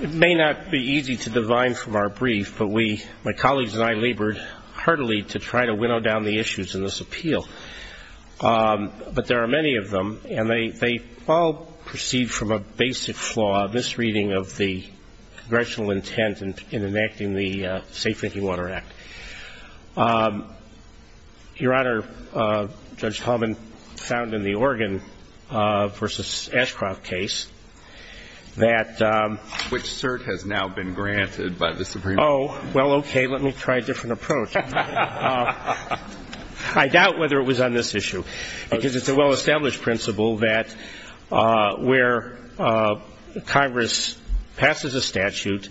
It may not be easy to divine from our brief, but my colleagues and I labored heartily to try to winnow down the issues in this appeal. But there are many of them, and they all proceed from a basic flaw, a misreading of the congressional intent in enacting the Safe Drinking Water Act. Your Honor, Judge Taubman found in the Oregon v. Ashcroft case that Which cert has now been granted by the Supreme Court? Well, okay, let me try a different approach. I doubt whether it was on this issue, because it's a well-established principle that where Congress passes a statute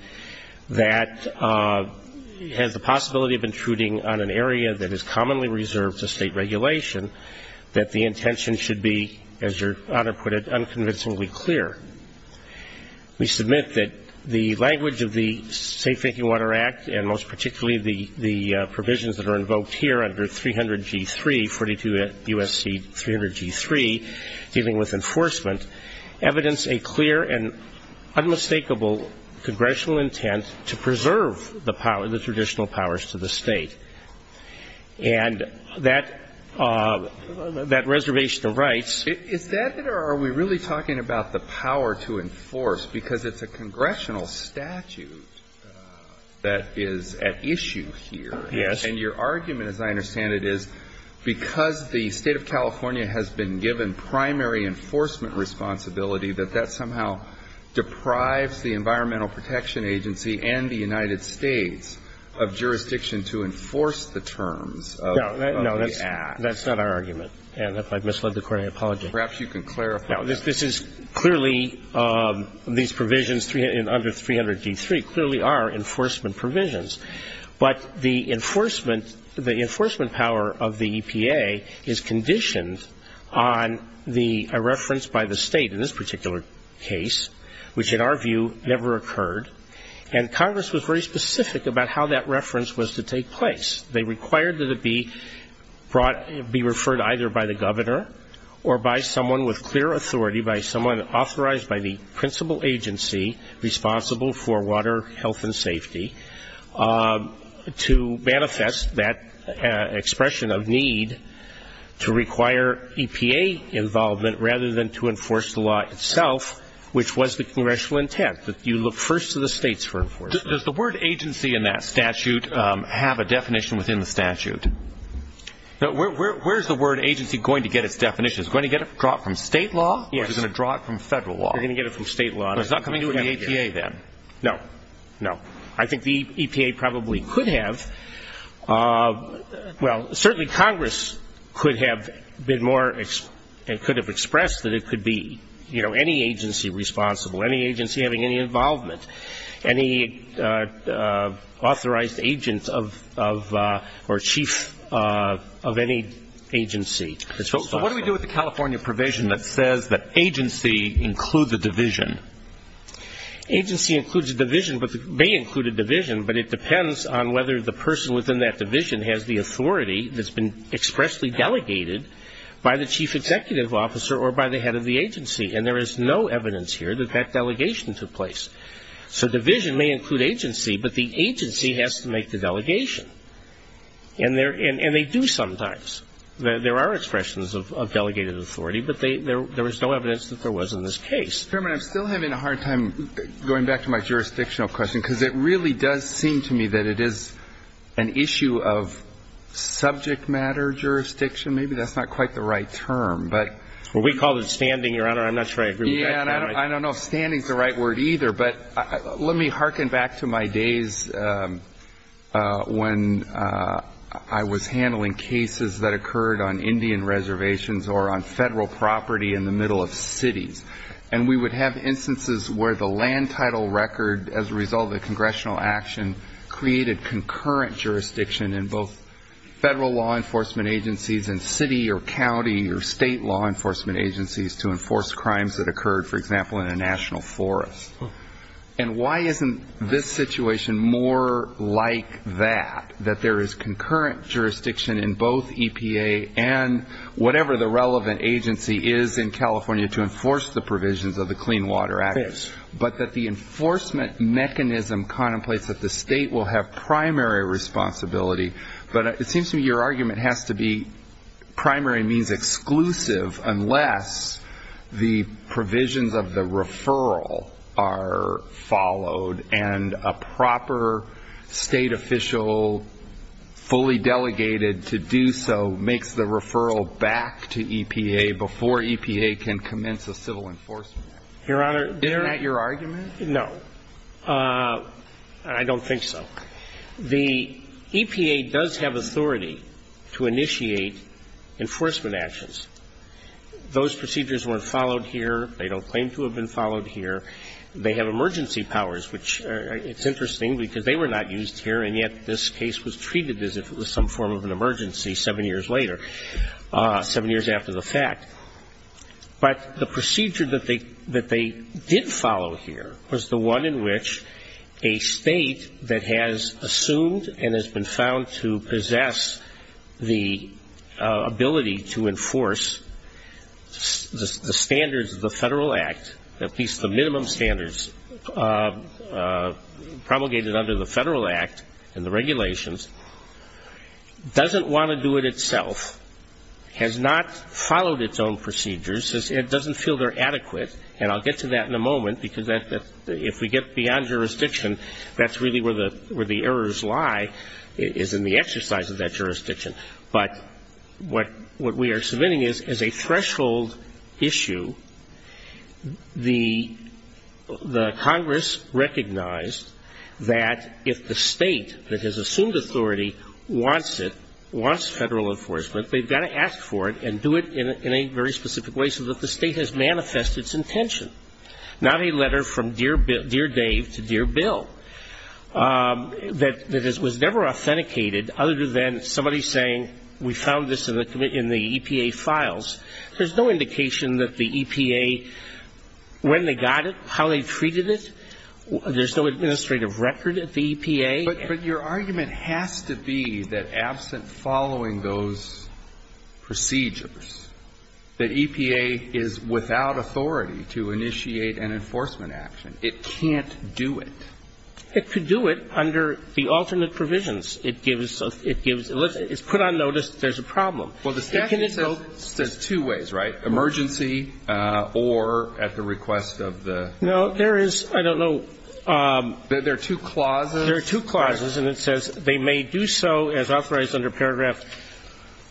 that has the possibility of intruding on an area that is commonly reserved to state regulation, that the intention should be, as Your Honor put it, We submit that the language of the Safe Drinking Water Act, and most particularly the provisions that are invoked here under 300G3, 42 U.S.C. 300G3, dealing with enforcement, evidence a clear and unmistakable congressional intent to preserve the traditional powers to the state. And that reservation of rights Is that it, or are we really talking about the power to enforce? Because it's a congressional statute that is at issue here. Yes. And your argument, as I understand it, is because the State of California has been given primary enforcement responsibility, that that somehow deprives the Environmental Protection Agency and the United States of jurisdiction to enforce the terms of the act. No, that's not our argument. And if I've misled the Court, I apologize. Perhaps you can clarify. Now, this is clearly, these provisions under 300G3 clearly are enforcement provisions. But the enforcement, the enforcement power of the EPA is conditioned on the reference by the State in this particular case, which in our view never occurred. And Congress was very specific about how that reference was to take place. They required that it be brought, be referred either by the governor or by someone with clear authority, by someone authorized by the principal agency responsible for water, health and safety, to manifest that expression of need to require EPA involvement rather than to refer it to the States for enforcement. Does the word agency in that statute have a definition within the statute? Where is the word agency going to get its definition? Is it going to get it from State law or is it going to draw it from Federal law? They're going to get it from State law. But it's not coming from the EPA then? No. No. I think the EPA probably could have. Well, certainly Congress could have been more and could have expressed that it could be, you know, any agency responsible, any agency having any involvement, any authorized agent of or chief of any agency responsible. So what do we do with the California provision that says that agency includes a division? Agency includes a division, but it may include a division, but it depends on whether the person within that division has the authority that's been expressly delegated by the chief executive officer or by the head of the agency. And there is no evidence here that that delegation took place. So division may include agency, but the agency has to make the delegation. And they do sometimes. There are expressions of delegated authority, but there was no evidence that there was in this case. Chairman, I'm still having a hard time going back to my jurisdictional question, because it really does seem to me that it is an issue of subject matter jurisdiction. Maybe that's not quite the right term. But we call it standing, Your Honor. I'm not sure I agree with that. Yeah, and I don't know if standing is the right word either. But let me harken back to my days when I was handling cases that occurred on Indian reservations or on Federal property in the middle of cities. And we would have instances where the land title record as a result of the congressional action created concurrent jurisdiction in both Federal law enforcement agencies and city or county or state law enforcement agencies to enforce crimes that occurred, for example, in a national forest. And why isn't this situation more like that, that there is concurrent jurisdiction in both EPA and whatever the state has to do to enforce the provisions of the Clean Water Act, but that the enforcement mechanism contemplates that the state will have primary responsibility? But it seems to me your argument has to be primary means exclusive unless the provisions of the referral are followed and a proper state official fully delegated to do so makes the referral back to EPA before EPA can enforce it. Your Honor, there are no. Isn't that your argument? I don't think so. The EPA does have authority to initiate enforcement actions. Those procedures weren't followed here. They don't claim to have been followed here. They have emergency powers, which it's interesting because they were not used here, and yet this case was treated as if it was some form of an emergency seven years later, seven years after the fact. But the procedure that they did follow here was the one in which a state that has assumed and has been found to possess the ability to enforce the standards of the Federal Act, at least the minimum standards promulgated under the Federal Act and the regulations, doesn't want to do it itself, has not followed its own procedures, it doesn't feel they're adequate, and I'll get to that in a moment, because if we get beyond jurisdiction, that's really where the errors lie, is in the exercise of that jurisdiction. But what we are submitting is, as a threshold issue, the Congress recognized that if the state that has assumed authority wants it, wants Federal enforcement, they've got to ask for it and do it in a very specific way, so that the state has manifested its intention, not a letter from dear Dave to dear Bill, that was never authenticated, other than somebody saying we found this in the EPA files. There's no indication that the EPA, when they got it, how they treated it, there's no administrative record at the EPA. But your argument has to be that absent following those procedures, that EPA is without authority to initiate an enforcement action, it can't do it. It could do it under the alternate provisions. It gives, it's put on notice there's a problem. Well, the statute says two ways, right? Emergency or at the request of the. No, there is, I don't know. There are two clauses. There are two clauses and it says they may do so as authorized under paragraph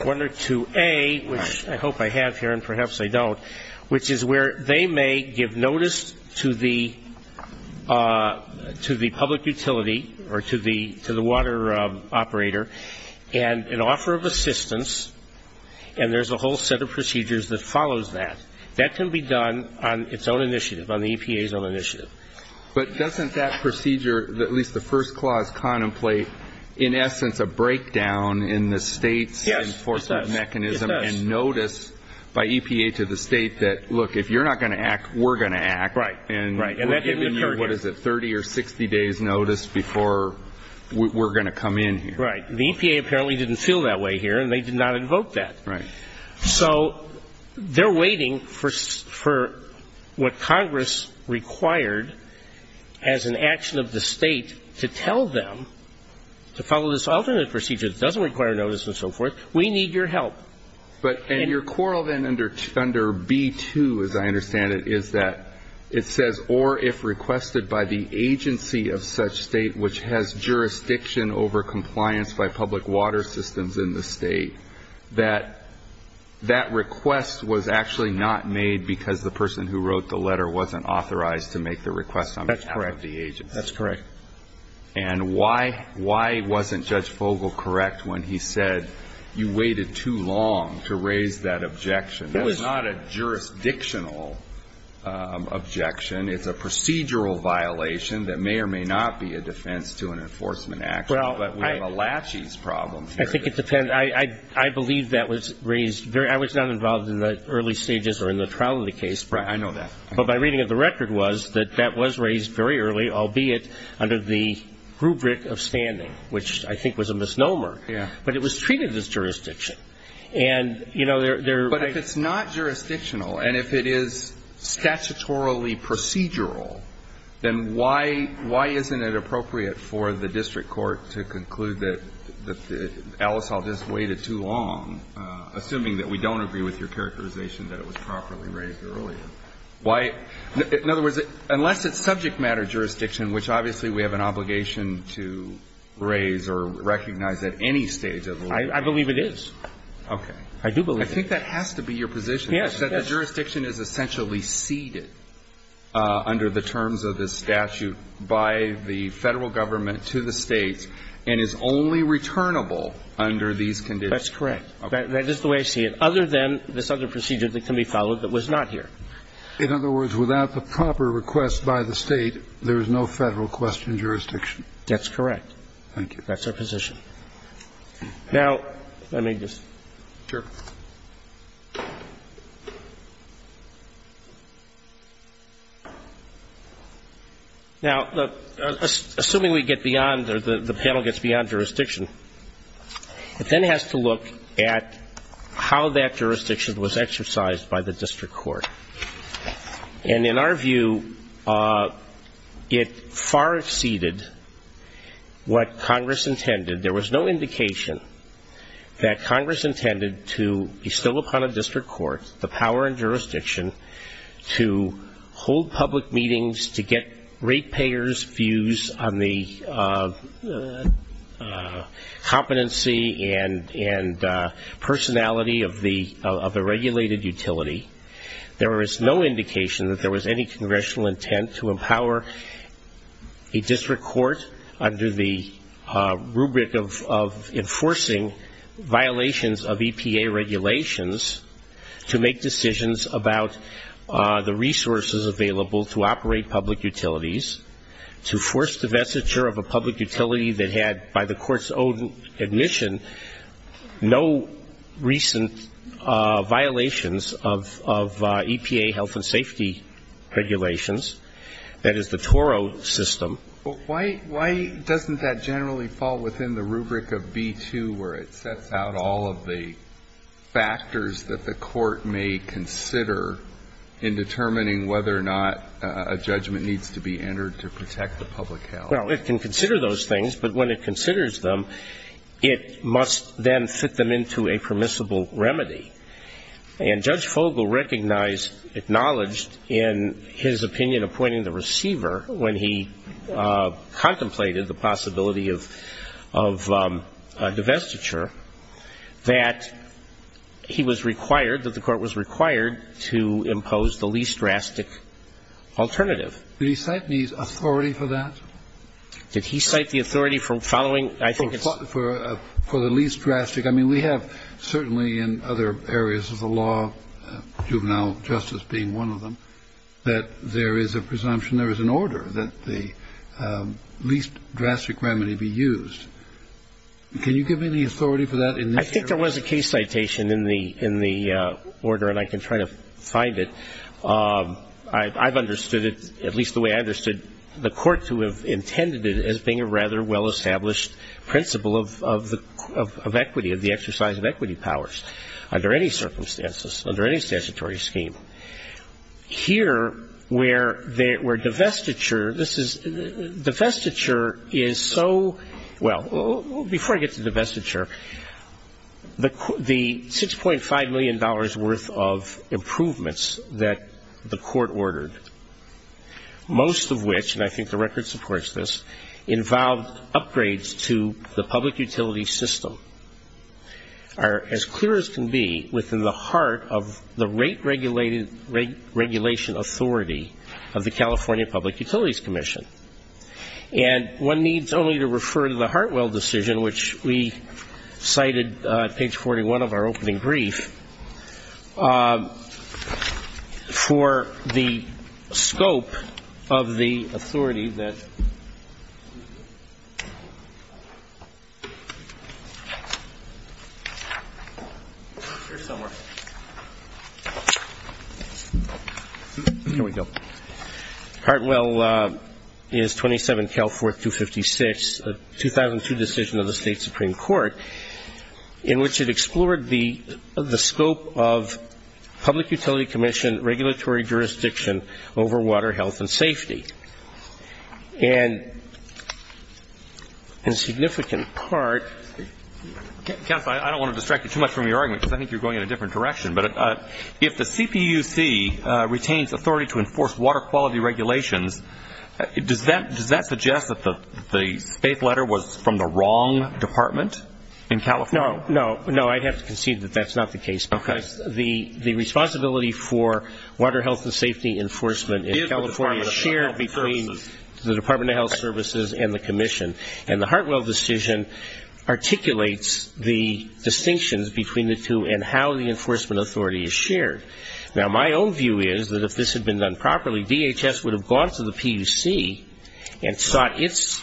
1 or 2A, which I hope I have here and perhaps I don't, which is where they may give notice to the public utility or to the water operator and an offer of assistance, and there's a whole set of procedures that follows that. That can be done on its own initiative, on the EPA's own initiative. But doesn't that procedure, at least the first clause, contemplate in essence a breakdown in the State's enforcement mechanism and notice by EPA to the State that, look, if you're not going to act, we're going to act. Right. And we're giving you, what is it, 30 or 60 days notice before we're going to come in here. Right. The EPA apparently didn't feel that way here and they did not invoke that. Right. So they're waiting for what Congress required as an action of the State to tell them to follow this alternate procedure that doesn't require notice and so forth, we need your help. But your quarrel then under B-2, as I understand it, is that it says, or if requested by the agency of such State which has jurisdiction over compliance by public water systems in the State, that that request was actually not made because the person who wrote the letter wasn't authorized to make the request on behalf of the agency. That's correct. And why wasn't Judge Fogel correct when he said you waited too long to raise that objection? That's not a jurisdictional objection. It's a procedural violation that may or may not be a defense to an enforcement action. Well, I believe that was raised, I was not involved in the early stages or in the trial of the case. I know that. But my reading of the record was that that was raised very early, albeit under the rubric of standing, which I think was a misnomer. Yeah. But it was treated as jurisdiction. But if it's not jurisdictional and if it is statutorily procedural, then why isn't it appropriate for the to conclude that Alice Hall just waited too long, assuming that we don't agree with your characterization that it was properly raised earlier? Why? In other words, unless it's subject matter jurisdiction, which obviously we have an obligation to raise or recognize at any stage of the litigation. I believe it is. Okay. I do believe it is. I think that has to be your position. Yes. That the jurisdiction is essentially ceded under the terms of this statute by the Federal Government to the States and is only returnable under these conditions. That's correct. That is the way I see it, other than this other procedure that can be followed that was not here. In other words, without the proper request by the State, there is no Federal question jurisdiction. That's correct. That's our position. Now, let me just. Sure. Now, assuming we get beyond or the panel gets beyond jurisdiction, it then has to look at how that jurisdiction was exercised by the district court. And in our view, it far exceeded what Congress intended. There was no indication that Congress intended to bestow upon a district court the power and jurisdiction to hold public meetings, to get rate payers' views on the competency and personality of the regulated utility. There was no indication that there was any congressional intent to empower a district court under the rubric of enforcing violations of EPA regulations to make decisions about the resources available to operate public utilities, to force divestiture of a public utility that had, by the Court's own admission, no recent violations of EPA health and safety regulations, that is, the TORO system. Why doesn't that generally fall within the rubric of B-2, where it sets out all of the factors that the Court may consider in determining whether or not a judgment needs to be entered to protect the public health? Well, it can consider those things, but when it considers them, it must then fit them into a permissible remedy. And Judge Fogle recognized, acknowledged in his opinion appointing the receiver when he contemplated the possibility of divestiture, that he was required, that the Court was required to impose the least drastic alternative. Did he cite me as authority for that? Did he cite the authority for following, I think it's... For the least drastic. I mean, we have certainly in other areas of the law, juvenile justice being one of them, that there is a presumption, there is an order that the least drastic remedy be used. Can you give me the authority for that in this case? I think there was a case citation in the order, and I can try to find it. I've understood it, at least the way I've understood the Court to have intended it as being a rather well-established principle of equity, of the exercise of equity powers under any circumstances, under any statutory scheme. Here, where divestiture, this is, divestiture is so, well, before I get to divestiture, the $6.5 million worth of improvements that the Court ordered, most of which, and I think the record supports this, involved upgrades to the public utility system, are as clear as can be within the heart of the rate regulation authority of the California Public Utilities Commission. And one needs only to refer to the Hartwell decision, which we cited at page 41 of our opening brief, for the scope of the authority that. Here we go. Hartwell is 27-Cal-4-256, a 2002 decision of the State Supreme Court, in which it explored the scope of public utility commission regulatory jurisdiction over water health and safety. And a significant part. Counsel, I don't want to distract you too much from your argument, because I think you're going in a different direction, but if the CPUC retains authority to enforce water quality regulations, does that suggest that the state letter was from the wrong department in California? No, I'd have to concede that that's not the case, because the responsibility for water health and safety enforcement in California is shared between the Department of Health Services and the commission. And the Hartwell decision articulates the distinctions between the two and how the enforcement authority is shared. Now, my own view is that if this had been done properly, DHS would have gone to the PUC and sought its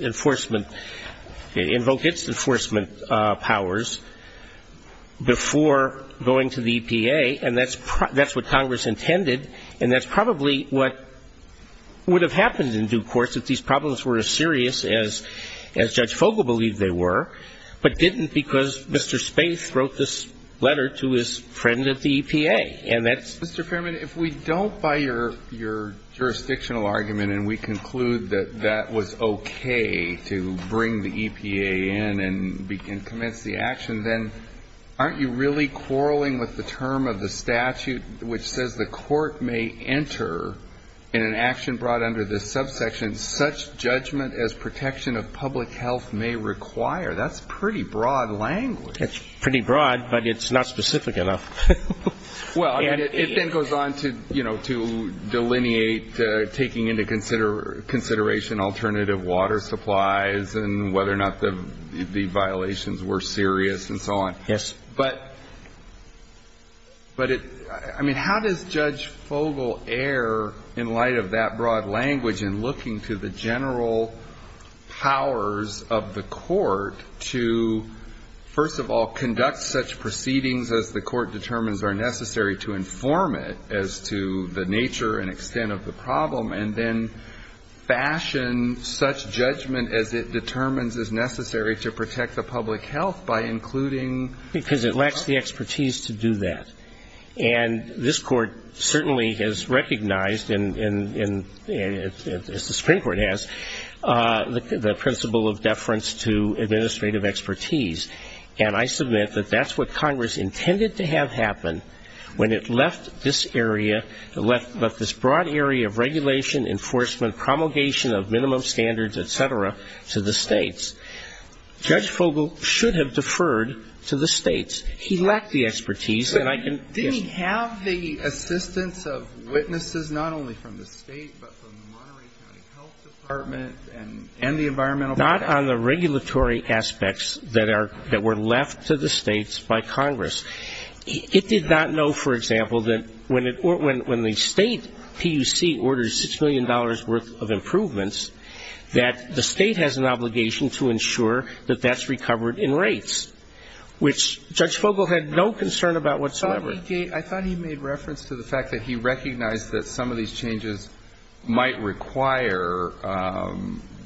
enforcement, invoked its enforcement powers before going to the EPA, and that's what Congress intended, and that's probably what would have happened in due course if these problems were as serious as Judge Fogle believed they were, but didn't because Mr. Spaeth wrote this letter to his friend at the EPA. And that's... Mr. Fairman, if we don't buy your jurisdictional argument and we conclude that that was okay to bring the EPA in and commence the action, then aren't you really quarreling with the term of the statute which says the court may enter in an action brought under this subsection as protection of public health may require? That's pretty broad language. It's pretty broad, but it's not specific enough. Well, it then goes on to, you know, to delineate taking into consideration alternative water supplies and whether or not the violations were serious and so on. Yes. But, I mean, how does Judge Fogle err in light of that broad language in looking to the general powers of the court to, first of all, conduct such proceedings as the court determines are necessary to inform it as to the nature and extent of the problem, and then fashion such judgment as it determines is necessary to protect the public health by including... Because it lacks the expertise to do that. And this court certainly has recognized, as the Supreme Court has, the principle of deference to administrative expertise. And I submit that that's what Congress intended to have happen when it left this broad area of regulation, enforcement, promulgation of minimum standards, et cetera, to the states. Judge Fogle should have deferred to the states. He lacked the expertise. And I can... Didn't he have the assistance of witnesses, not only from the state, but from the Monterey County Health Department and the Environmental... Not on the regulatory aspects that were left to the states by Congress. It did not know, for example, that when the state PUC orders $6 million worth of improvements, that the state has an obligation to ensure that that's recovered in rates, which Judge Fogle had no concern about whatsoever. I thought he made reference to the fact that he recognized that some of these changes might require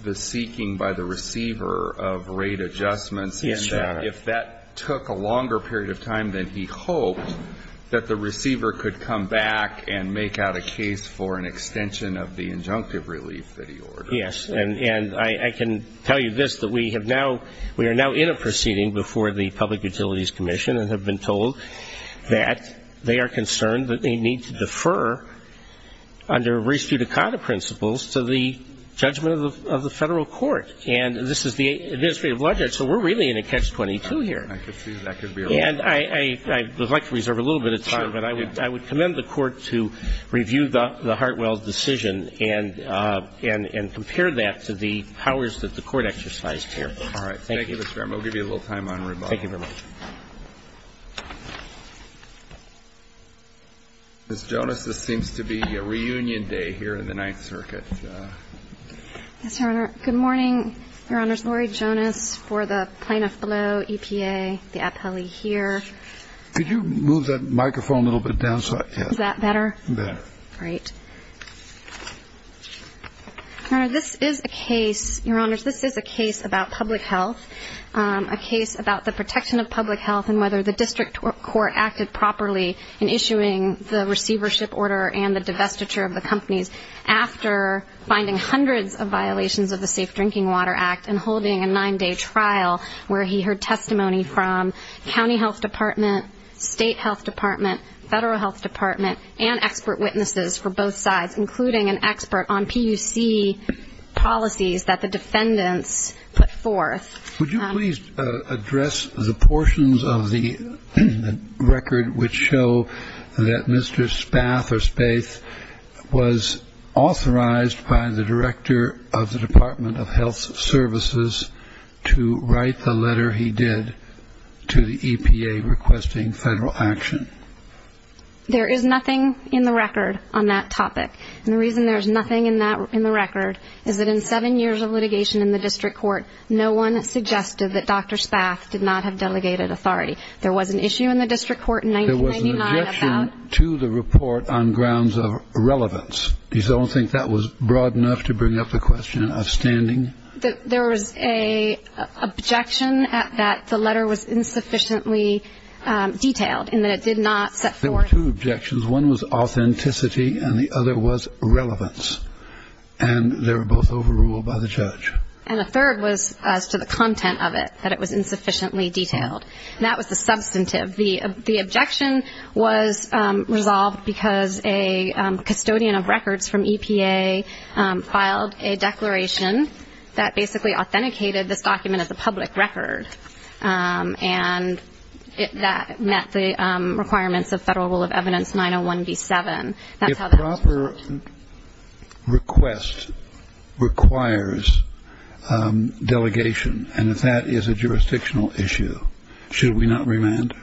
the seeking by the receiver of rate adjustments. And if that took a longer period of time than he hoped, that the receiver could come back and make out a case for an extension of the injunctive relief that he ordered. Yes. And I can tell you this, that we are now in a proceeding before the Public Utilities Commission and have been told that they are concerned that they need to defer under res judicata principles to the judgment of the federal court. And this is the administrative ledger, so we're really in a catch-22 here. And I would like to reserve a little bit of time, but I would commend the court to review the Hartwell decision and compare that to the powers that the court exercised here. All right. Thank you, Mr. Fairman. We'll give you a little time on rebuttal. Thank you very much. Ms. Jonas, this seems to be a reunion day here in the Ninth Circuit. Yes, Your Honor. Good morning, Your Honors. Laurie Jonas for the plaintiff below, EPA, the appellee here. Could you move that microphone a little bit down? Is that better? Better. Great. Your Honor, this is a case, Your Honors, this is a case about public health, a case about the protection of public health and whether the district court acted properly in issuing the receivership order and the divestiture of the companies after finding hundreds of violations of the Safe Drinking Water Act and holding a nine-day trial where he heard testimony from county health department, state health department, federal health department, and expert witnesses for both sides, including an expert on PUC policies that the defendants put forth. Would you please address the portions of the record which show that Mr. Spath or Spath was authorized by the director of the Department of Health Services to write the letter he did to the EPA requesting federal action? There is nothing in the record on that topic. And the reason there is nothing in the record is that in seven years of litigation in the district court, no one suggested that Dr. Spath did not have delegated authority. There was an issue in the district court in 1999 about the issue. There was an objection to the report on grounds of irrelevance. Do you still think that was broad enough to bring up the question of standing? There was an objection that the letter was insufficiently detailed in that it did not set forth. There were two objections. One was authenticity and the other was relevance. And they were both overruled by the judge. And a third was as to the content of it, that it was insufficiently detailed. And that was the substantive. The objection was resolved because a custodian of records from EPA filed a declaration that basically authenticated this document as a public record and that met the requirements of Federal Rule of Evidence 901B7. A proper request requires delegation. And if that is a jurisdictional issue, should we not remand?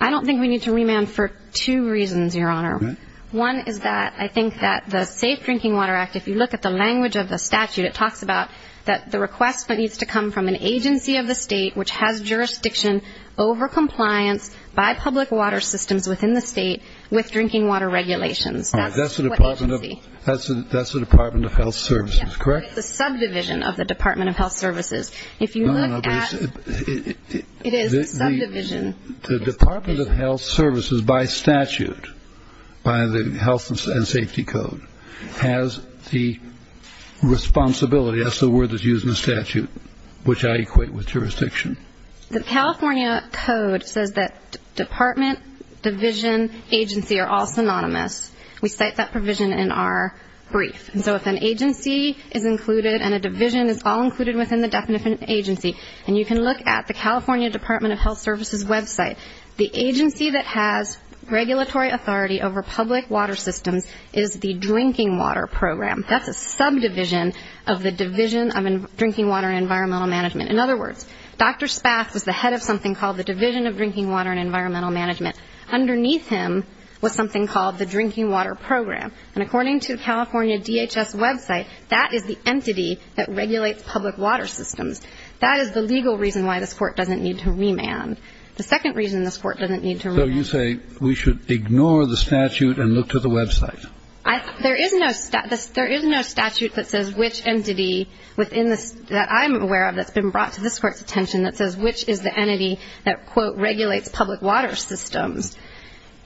I don't think we need to remand for two reasons, Your Honor. One is that I think that the Safe Drinking Water Act, if you look at the language of the statute, it talks about that the request needs to come from an agency of the state which has jurisdiction over compliance by public water systems within the state with drinking water regulations. That's what agency. That's the Department of Health Services, correct? It's the subdivision of the Department of Health Services. It is subdivision. The Department of Health Services, by statute, by the Health and Safety Code, has the responsibility, that's the word that's used in the statute, which I equate with jurisdiction. The California Code says that department, division, agency are all synonymous. We cite that provision in our brief. And so if an agency is included and a division is all included within the definition of agency, and you can look at the California Department of Health Services website, the agency that has regulatory authority over public water systems is the drinking water program. That's a subdivision of the Division of Drinking Water and Environmental Management. In other words, Dr. Spath was the head of something called the Division of Drinking Water and Environmental Management. Underneath him was something called the Drinking Water Program. And according to the California DHS website, that is the entity that regulates public water systems. That is the legal reason why this Court doesn't need to remand. The second reason this Court doesn't need to remand. So you say we should ignore the statute and look to the website? There is no statute that says which entity that I'm aware of that's been brought to this Court's attention that says which is the entity that, quote,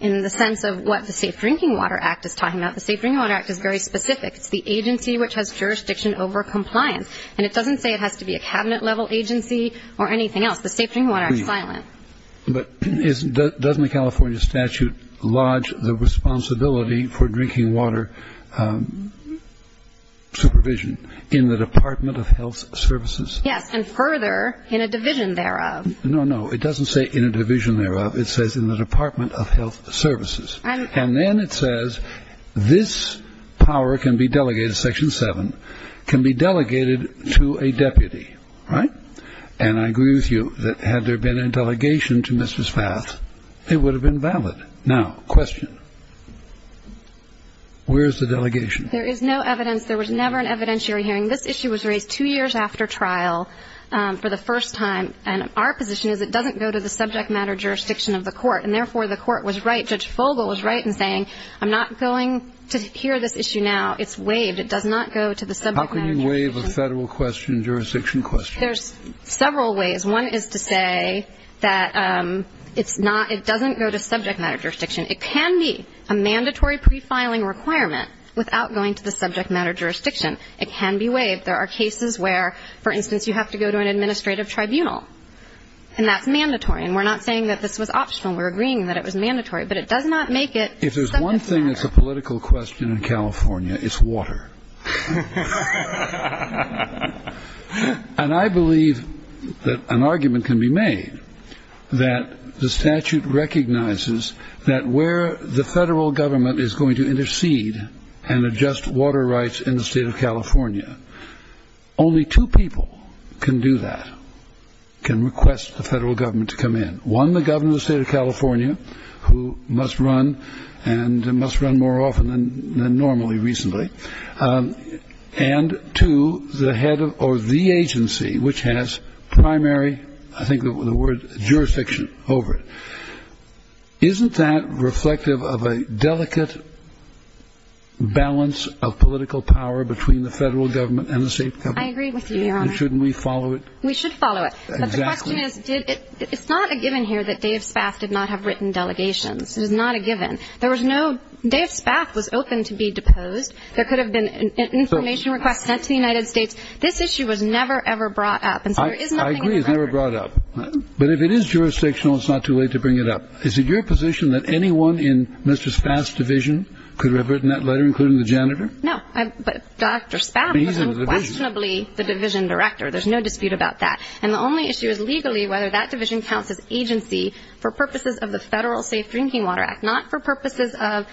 in the sense of what the Safe Drinking Water Act is talking about. The Safe Drinking Water Act is very specific. It's the agency which has jurisdiction over compliance. And it doesn't say it has to be a cabinet-level agency or anything else. The Safe Drinking Water Act is silent. But doesn't the California statute lodge the responsibility for drinking water supervision in the Department of Health Services? Yes, and further in a division thereof. No, no, it doesn't say in a division thereof. It says in the Department of Health Services. And then it says this power can be delegated, Section 7, can be delegated to a deputy, right? And I agree with you that had there been a delegation to Mrs. Fath, it would have been valid. Now, question. Where is the delegation? There is no evidence. There was never an evidentiary hearing. This issue was raised two years after trial for the first time. And our position is it doesn't go to the subject matter jurisdiction of the court. And, therefore, the court was right, Judge Fogle was right in saying, I'm not going to hear this issue now. It's waived. It does not go to the subject matter jurisdiction. How can you waive a Federal question, jurisdiction question? There's several ways. One is to say that it's not, it doesn't go to subject matter jurisdiction. It can be a mandatory pre-filing requirement without going to the subject matter jurisdiction. It can be waived. There are cases where, for instance, you have to go to an administrative tribunal. And that's mandatory. And we're not saying that this was optional. We're agreeing that it was mandatory. But it does not make it subject matter. If there's one thing that's a political question in California, it's water. And I believe that an argument can be made that the statute recognizes that where the Federal Government is going to intercede and adjust water rights in the State of California, only two people can do that, can request the Federal Government to come in. One, the Governor of the State of California, who must run and must run more often than normally recently. And two, the head or the agency which has primary, I think the word, jurisdiction over it. Isn't that reflective of a delicate balance of political power between the Federal Government and the State of California? I agree with you, Your Honor. And shouldn't we follow it? We should follow it. Exactly. But the question is, it's not a given here that Dave Spaff did not have written delegations. It is not a given. There was no, Dave Spaff was open to be deposed. There could have been an information request sent to the United States. This issue was never, ever brought up. And so there is nothing in the record. I agree, it was never brought up. But if it is jurisdictional, it's not too late to bring it up. Is it your position that anyone in Mr. Spaff's division could have written that letter, including the janitor? No, but Dr. Spaff was unquestionably the division director. There's no dispute about that. And the only issue is legally whether that division counts as agency for purposes of the Federal Safe Drinking Water Act, not for purposes of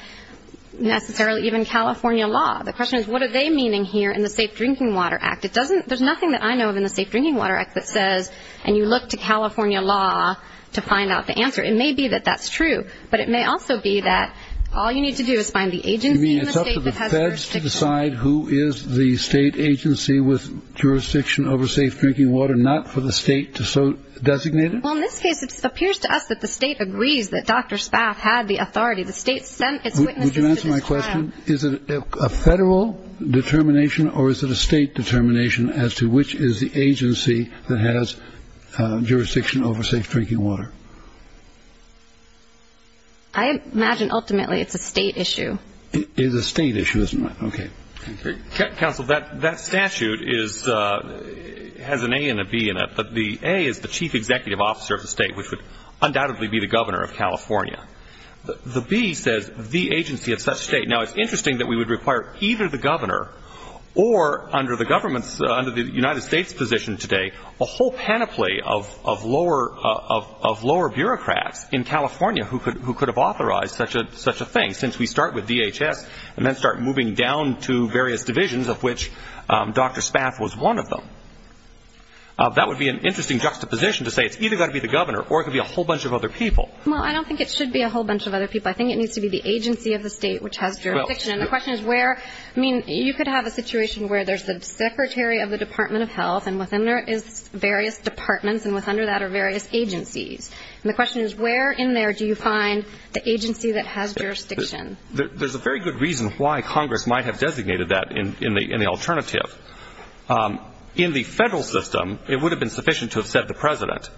necessarily even California law. The question is, what are they meaning here in the Safe Drinking Water Act? There's nothing that I know of in the Safe Drinking Water Act that says, and you look to California law to find out the answer. It may be that that's true. But it may also be that all you need to do is find the agency in the state that has jurisdiction. You mean it's up to the feds to decide who is the state agency with jurisdiction over safe drinking water, not for the state to designate it? Well, in this case it appears to us that the state agrees that Dr. Spaff had the authority. The state sent its witnesses to decide. Would you answer my question? Is it a federal determination, or is it a state determination, as to which is the agency that has jurisdiction over safe drinking water? I imagine ultimately it's a state issue. It is a state issue, isn't it? Okay. Counsel, that statute has an A and a B in it. The A is the chief executive officer of the state, which would undoubtedly be the governor of California. The B says the agency of such state. Now, it's interesting that we would require either the governor or, under the United States position today, a whole panoply of lower bureaucrats in California who could have authorized such a thing, since we start with DHS and then start moving down to various divisions of which Dr. Spaff was one of them. That would be an interesting juxtaposition to say it's either got to be the governor or it could be a whole bunch of other people. Well, I don't think it should be a whole bunch of other people. I think it needs to be the agency of the state which has jurisdiction. And the question is where? I mean, you could have a situation where there's the secretary of the Department of Health, and within there is various departments, and under that are various agencies. And the question is where in there do you find the agency that has jurisdiction? There's a very good reason why Congress might have designated that in the alternative. In the federal system, it would have been sufficient to have said the president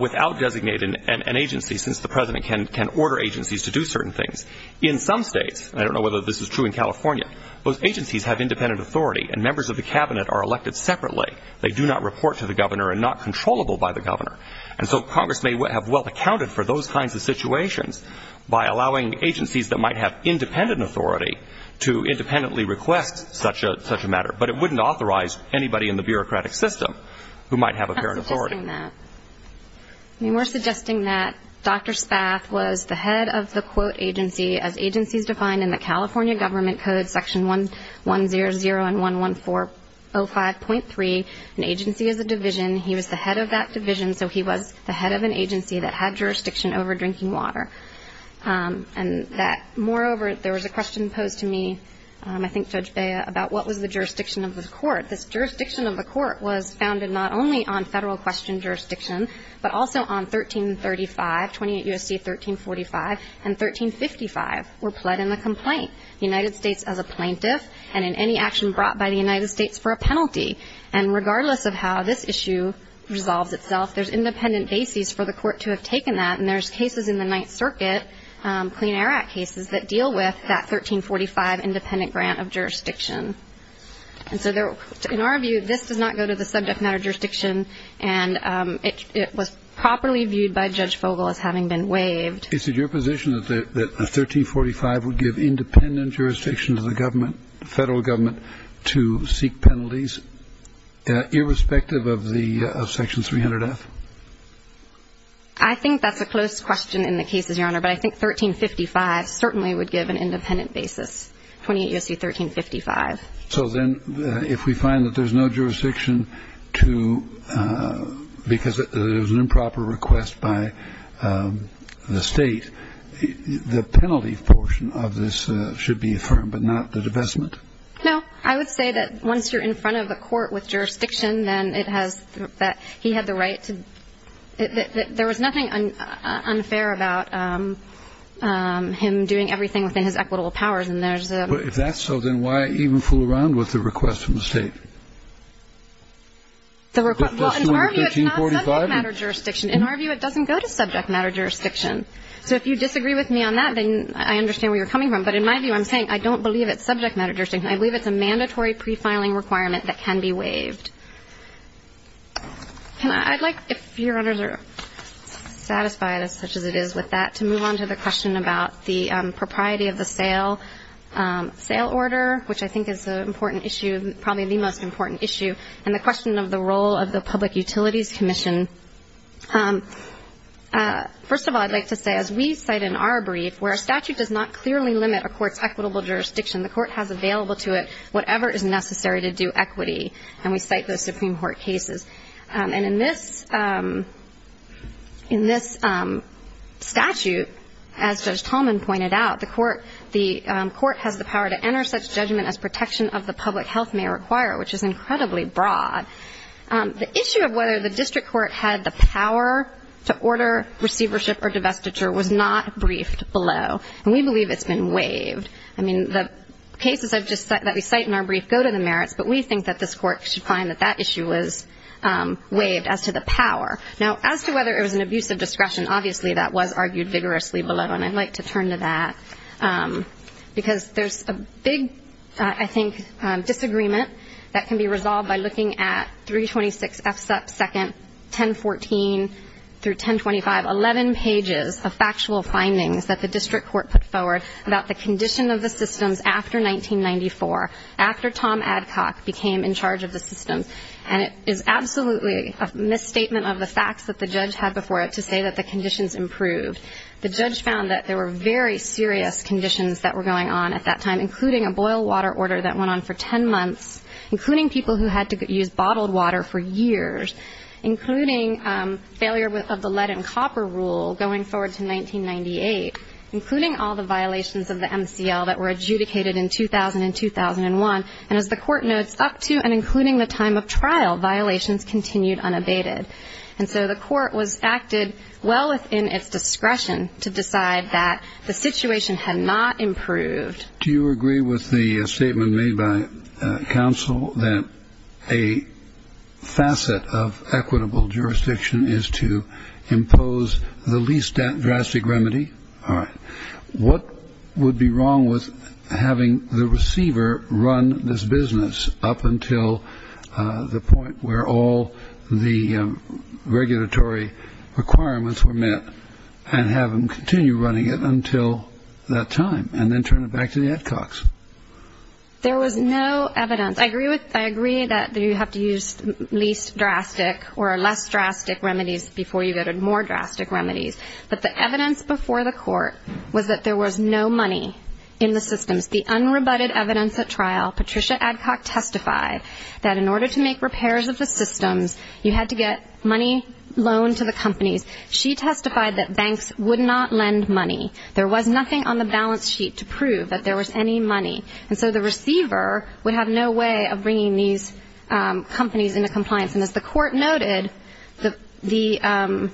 without designating an agency, since the president can order agencies to do certain things. In some states, and I don't know whether this is true in California, those agencies have independent authority, and members of the cabinet are elected separately. They do not report to the governor and are not controllable by the governor. And so Congress may have well accounted for those kinds of situations by allowing agencies that might have independent authority to independently request such a matter. But it wouldn't authorize anybody in the bureaucratic system who might have apparent authority. I'm not suggesting that. I mean, we're suggesting that Dr. Spath was the head of the, quote, agency as agencies defined in the California Government Code, Section 100 and 11405.3. An agency is a division. He was the head of that division, so he was the head of an agency that had jurisdiction over drinking water. And that, moreover, there was a question posed to me, I think, Judge Bea, about what was the jurisdiction of the court. This jurisdiction of the court was founded not only on federal question jurisdiction, but also on 1335, 28 U.S.C. 1345, and 1355 were pled in the complaint, the United States as a plaintiff, and in any action brought by the United States for a penalty. And regardless of how this issue resolves itself, there's independent bases for the court to have taken that, and there's cases in the Ninth Circuit, Clean Air Act cases, that deal with that 1345 independent grant of jurisdiction. And so in our view, this does not go to the subject matter jurisdiction, and it was properly viewed by Judge Vogel as having been waived. Is it your position that the 1345 would give independent jurisdiction to the government, federal government, to seek penalties, irrespective of the section 300F? I think that's a close question in the cases, Your Honor, but I think 1355 certainly would give an independent basis, 28 U.S.C. 1355. So then if we find that there's no jurisdiction to, because there's an improper request by the state, the penalty portion of this should be affirmed, but not the divestment? No. I would say that once you're in front of a court with jurisdiction, then it has, that he had the right to, there was nothing unfair about him doing everything within his equitable powers, and there's a. If that's so, then why even fool around with the request from the state? The request, well, in our view, it's not subject matter jurisdiction. In our view, it doesn't go to subject matter jurisdiction. So if you disagree with me on that, then I understand where you're coming from. But in my view, I'm saying I don't believe it's subject matter jurisdiction. I believe it's a mandatory prefiling requirement that can be waived. I'd like, if Your Honors are satisfied as such as it is with that, to move on to the question about the propriety of the sale order, which I think is an important issue, probably the most important issue, and the question of the role of the Public Utilities Commission. First of all, I'd like to say, as we cite in our brief, where a statute does not clearly limit a court's equitable jurisdiction, the court has available to it whatever is necessary to do equity, and we cite those Supreme Court cases. And in this statute, as Judge Tallman pointed out, the court has the power to enter such judgment as protection of the public health may require, which is incredibly broad. The issue of whether the district court had the power to order receivership or divestiture was not briefed below, and we believe it's been waived. I mean, the cases that we cite in our brief go to the merits, but we think that this court should find that that issue was waived as to the power. Now, as to whether it was an abuse of discretion, obviously that was argued vigorously below, and I'd like to turn to that because there's a big, I think, disagreement that can be resolved by looking at 326F2nd 1014-1025, 11 pages of factual findings that the district court put forward about the condition of the systems after 1994, after Tom Adcock became in charge of the systems. And it is absolutely a misstatement of the facts that the judge had before it to say that the conditions improved. The judge found that there were very serious conditions that were going on at that time, including a boil water order that went on for ten months, including people who had to use bottled water for years, including failure of the lead and copper rule going forward to 1998, including all the violations of the MCL that were adjudicated in 2000 and 2001. And as the court notes, up to and including the time of trial, violations continued unabated. And so the court acted well within its discretion to decide that the situation had not improved. Do you agree with the statement made by counsel that a facet of equitable jurisdiction is to impose the least drastic remedy? All right. What would be wrong with having the receiver run this business up until the point where all the regulatory requirements were met and have them continue running it until that time and then turn it back to the Adcocks? There was no evidence. I agree that you have to use least drastic or less drastic remedies before you go to more drastic remedies. But the evidence before the court was that there was no money in the systems. The unrebutted evidence at trial, Patricia Adcock testified that in order to make repairs of the systems, you had to get money loaned to the companies. She testified that banks would not lend money. There was nothing on the balance sheet to prove that there was any money. And so the receiver would have no way of bringing these companies into compliance. And as the court noted, the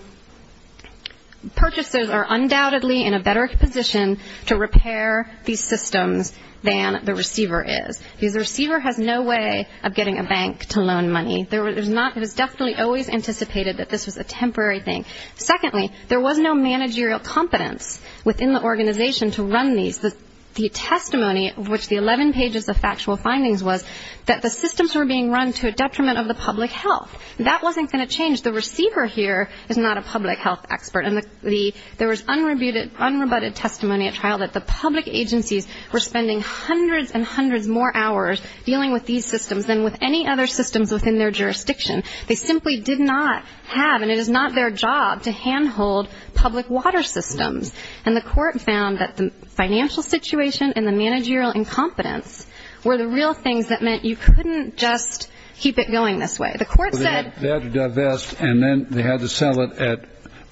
purchasers are undoubtedly in a better position to repair these systems than the receiver is, because the receiver has no way of getting a bank to loan money. It was definitely always anticipated that this was a temporary thing. Secondly, there was no managerial competence within the organization to run these. The testimony of which the 11 pages of factual findings was that the systems were being run to a detriment of the public health. That wasn't going to change. The receiver here is not a public health expert. And there was unrebutted testimony at trial that the public agencies were spending hundreds and hundreds more hours dealing with these systems than with any other systems within their jurisdiction. They simply did not have, and it is not their job, to handhold public water systems. And the court found that the financial situation and the managerial incompetence were the real things that meant you couldn't just keep it going this way. The court said they had to divest, and then they had to sell it at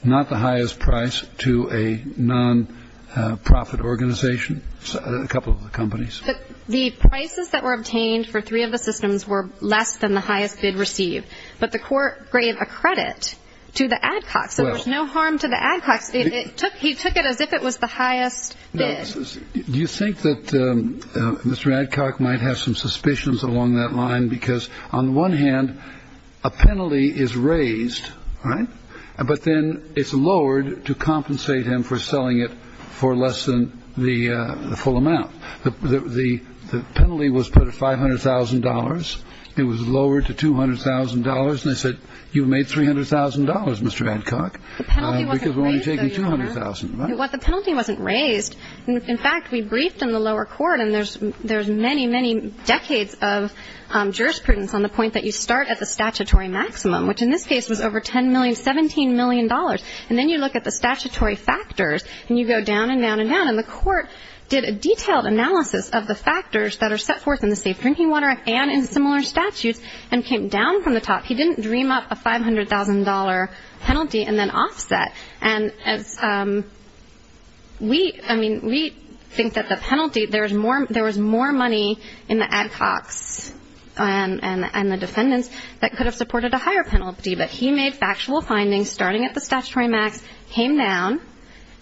not the highest price to a non-profit organization, a couple of companies. But the prices that were obtained for three of the systems were less than the highest bid received. But the court gave a credit to the Adcocks, so there was no harm to the Adcocks. He took it as if it was the highest bid. Do you think that Mr. Adcock might have some suspicions along that line? Because on the one hand, a penalty is raised, right? But then it's lowered to compensate him for selling it for less than the full amount. The penalty was put at $500,000. It was lowered to $200,000. And they said, you've made $300,000, Mr. Adcock, because we're only taking $200,000. Well, the penalty wasn't raised. In fact, we briefed in the lower court, and there's many, many decades of jurisprudence on the point that you start at the statutory maximum, which in this case was over $10 million, $17 million. And then you look at the statutory factors, and you go down and down and down. And the court did a detailed analysis of the factors that are set forth in the Safe Drinking Water Act and in similar statutes and came down from the top. He didn't dream up a $500,000 penalty and then offset. And we think that the penalty, there was more money in the Adcocks and the defendants that could have supported a higher penalty. But he made factual findings starting at the statutory max, came down,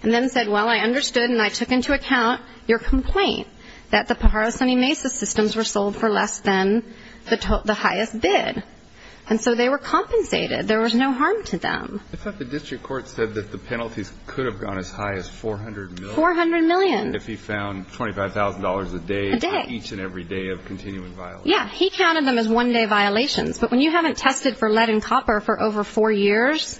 and then said, well, I understood and I took into account your complaint that the Pajaro Sunny Mesa systems were sold for less than the highest bid. And so they were compensated. There was no harm to them. In fact, the district court said that the penalties could have gone as high as $400 million. $400 million. If he found $25,000 a day on each and every day of continuing violations. Yeah. He counted them as one-day violations. But when you haven't tested for lead and copper for over four years,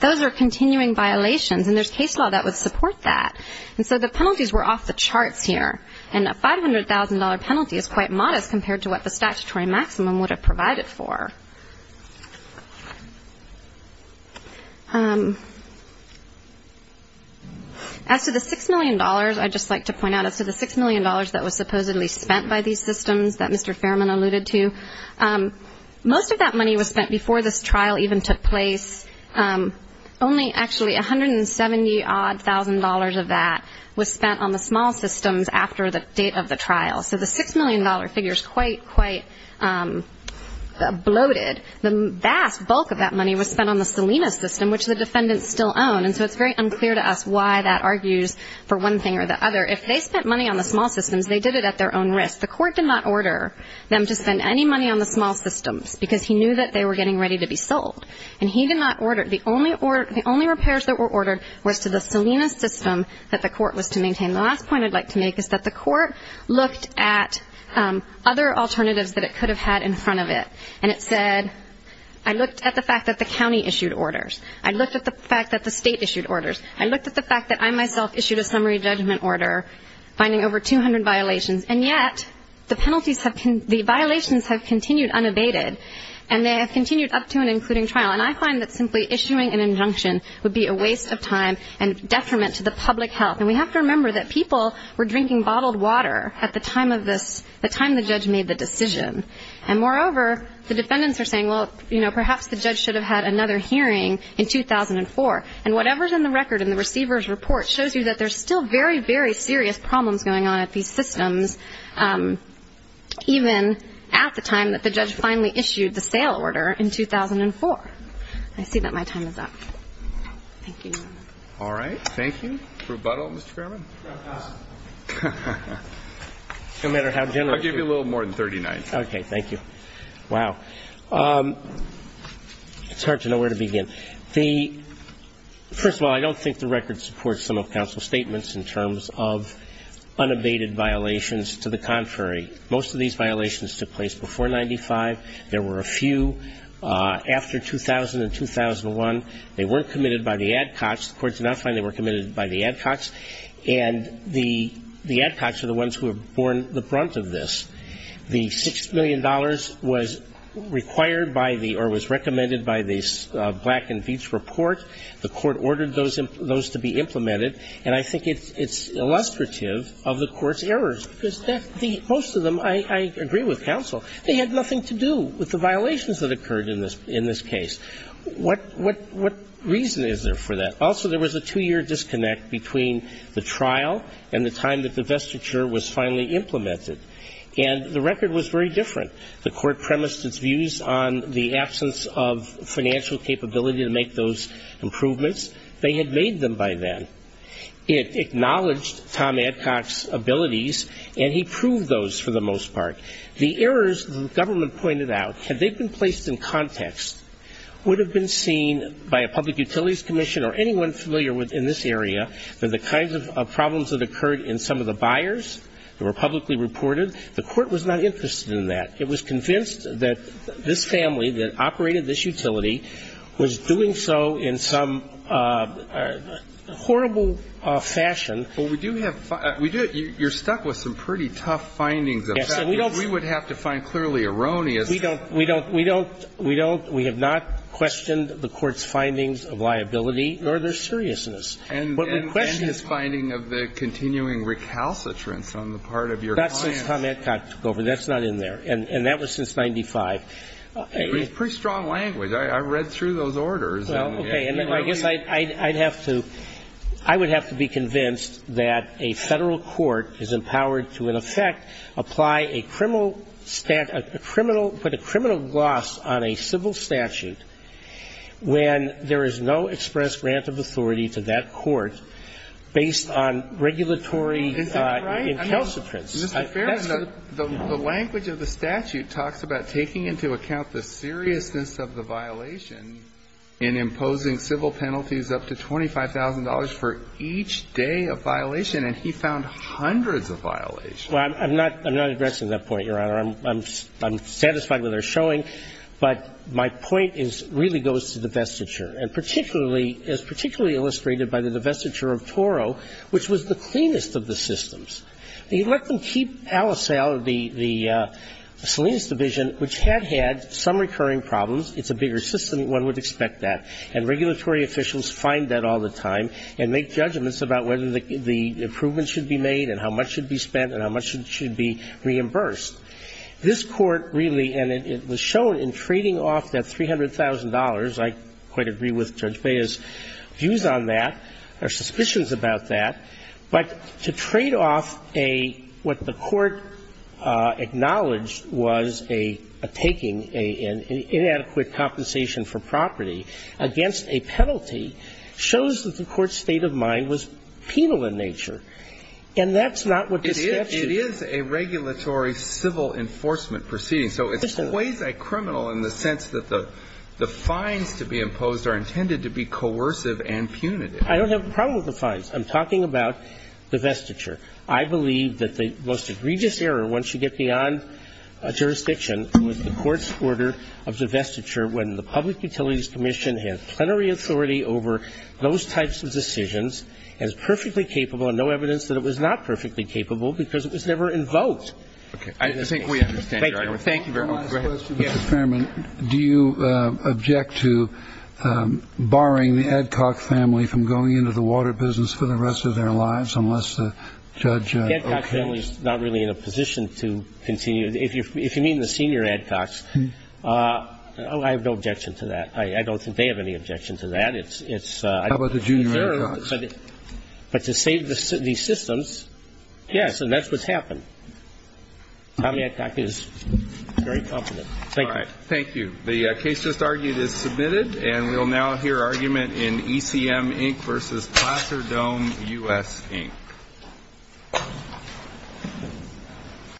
those are continuing violations. And there's case law that would support that. And so the penalties were off the charts here. And a $500,000 penalty is quite modest compared to what the statutory maximum would have provided for. As to the $6 million, I'd just like to point out, as to the $6 million that was supposedly spent by these systems that Mr. Fairman alluded to, most of that money was spent before this trial even took place. Only actually $170,000-odd of that was spent on the small systems after the date of the trial. So the $6 million figure is quite, quite bloated. The vast bulk of that money was spent on the Salinas system, which the defendants still own. And so it's very unclear to us why that argues for one thing or the other. If they spent money on the small systems, they did it at their own risk. The court did not order them to spend any money on the small systems, because he knew that they were getting ready to be sold. And he did not order it. The only repairs that were ordered was to the Salinas system that the court was to maintain. The last point I'd like to make is that the court looked at other alternatives that it could have had in front of it. And it said, I looked at the fact that the county issued orders. I looked at the fact that the state issued orders. I looked at the fact that I myself issued a summary judgment order finding over 200 violations. And yet the penalties have been, the violations have continued unabated. And they have continued up to and including trial. And I find that simply issuing an injunction would be a waste of time and detriment to the public health. And we have to remember that people were drinking bottled water at the time of this, the time the judge made the decision. And moreover, the defendants are saying, well, you know, perhaps the judge should have had another hearing in 2004. And whatever's in the record in the receiver's report shows you that there's still very, very serious problems going on at these systems, even at the time that the judge finally issued the sale order in 2004. I see that my time is up. Thank you. All right. Thank you. Rebuttal, Mr. Fairman? No matter how generous you are. I'll give you a little more than 39. Okay. Thank you. Wow. It's hard to know where to begin. First of all, I don't think the record supports some of counsel's statements in terms of unabated violations. To the contrary, most of these violations took place before 95. There were a few after 2000 and 2001. They weren't committed by the Adcocks. The courts did not find they were committed by the Adcocks. And the Adcocks are the ones who were born the brunt of this. The $6 million was required by the or was recommended by the Black and Veatch report. The court ordered those to be implemented. And I think it's illustrative of the court's errors because most of them I agree with counsel. They had nothing to do with the violations that occurred in this case. What reason is there for that? Also, there was a two-year disconnect between the trial and the time that the vestiture was finally implemented. And the record was very different. The court premised its views on the absence of financial capability to make those improvements. They had made them by then. It acknowledged Tom Adcock's abilities, and he proved those for the most part. The errors the government pointed out, had they been placed in context, would have been seen by a public utilities commission or anyone familiar in this area that the kinds of problems that occurred in some of the buyers that were publicly reported, the court was not interested in that. It was convinced that this family that operated this utility was doing so in some horrible fashion. But we do have you're stuck with some pretty tough findings. Yes. We would have to find clearly erroneous. We don't. We have not questioned the court's findings of liability nor their seriousness. What we're questioning is finding of the continuing recalcitrance on the part of your clients. That's since Tom Adcock took over. That's not in there. And that was since 95. It was pretty strong language. I read through those orders. Well, okay. I guess I'd have to be convinced that a Federal court is empowered to, in effect, apply a criminal, put a criminal gloss on a civil statute when there is no express grant of authority to that court based on regulatory incalcitrance. Mr. Ferron, the language of the statute talks about taking into account the seriousness of the violation in imposing civil penalties up to $25,000 for each day of violation, and he found hundreds of violations. Well, I'm not addressing that point, Your Honor. I'm satisfied with our showing. But my point is, really goes to divestiture, and particularly, as particularly illustrated by the divestiture of Toro, which was the cleanest of the systems. You let them keep Alisal, the Salinas division, which had had some recurring problems. It's a bigger system. One would expect that. And regulatory officials find that all the time and make judgments about whether the improvement should be made and how much should be spent and how much should be reimbursed. This Court really, and it was shown in trading off that $300,000. I quite agree with Judge Bea's views on that, or suspicions about that. But to trade off a – what the Court acknowledged was a taking, an inadequate compensation for property against a penalty shows that the Court's state of mind was penal in nature. And that's not what this statute is. It is a regulatory civil enforcement proceeding. So it's quasi-criminal in the sense that the fines to be imposed are intended to be coercive and punitive. I don't have a problem with the fines. I'm talking about divestiture. I believe that the most egregious error, once you get beyond jurisdiction with the Court's order of divestiture, when the Public Utilities Commission has plenary authority over those types of decisions and is perfectly capable and no evidence that it was not perfectly capable because it was never invoked. Okay. I think we understand, Your Honor. Thank you. Thank you very much. Go ahead. My question, Mr. Fairman, do you object to barring the Adcock family from going into the water business for the rest of their lives unless the judge approves? The Adcock family is not really in a position to continue. If you mean the senior Adcocks, I have no objection to that. I don't think they have any objection to that. It's – How about the junior Adcocks? But to save these systems, yes, and that's what's happened. Tom Adcock is very confident. Thank you. All right. Thank you. The case just argued is submitted, and we'll now hear argument in ECM Inc. versus Placer Dome U.S. Inc.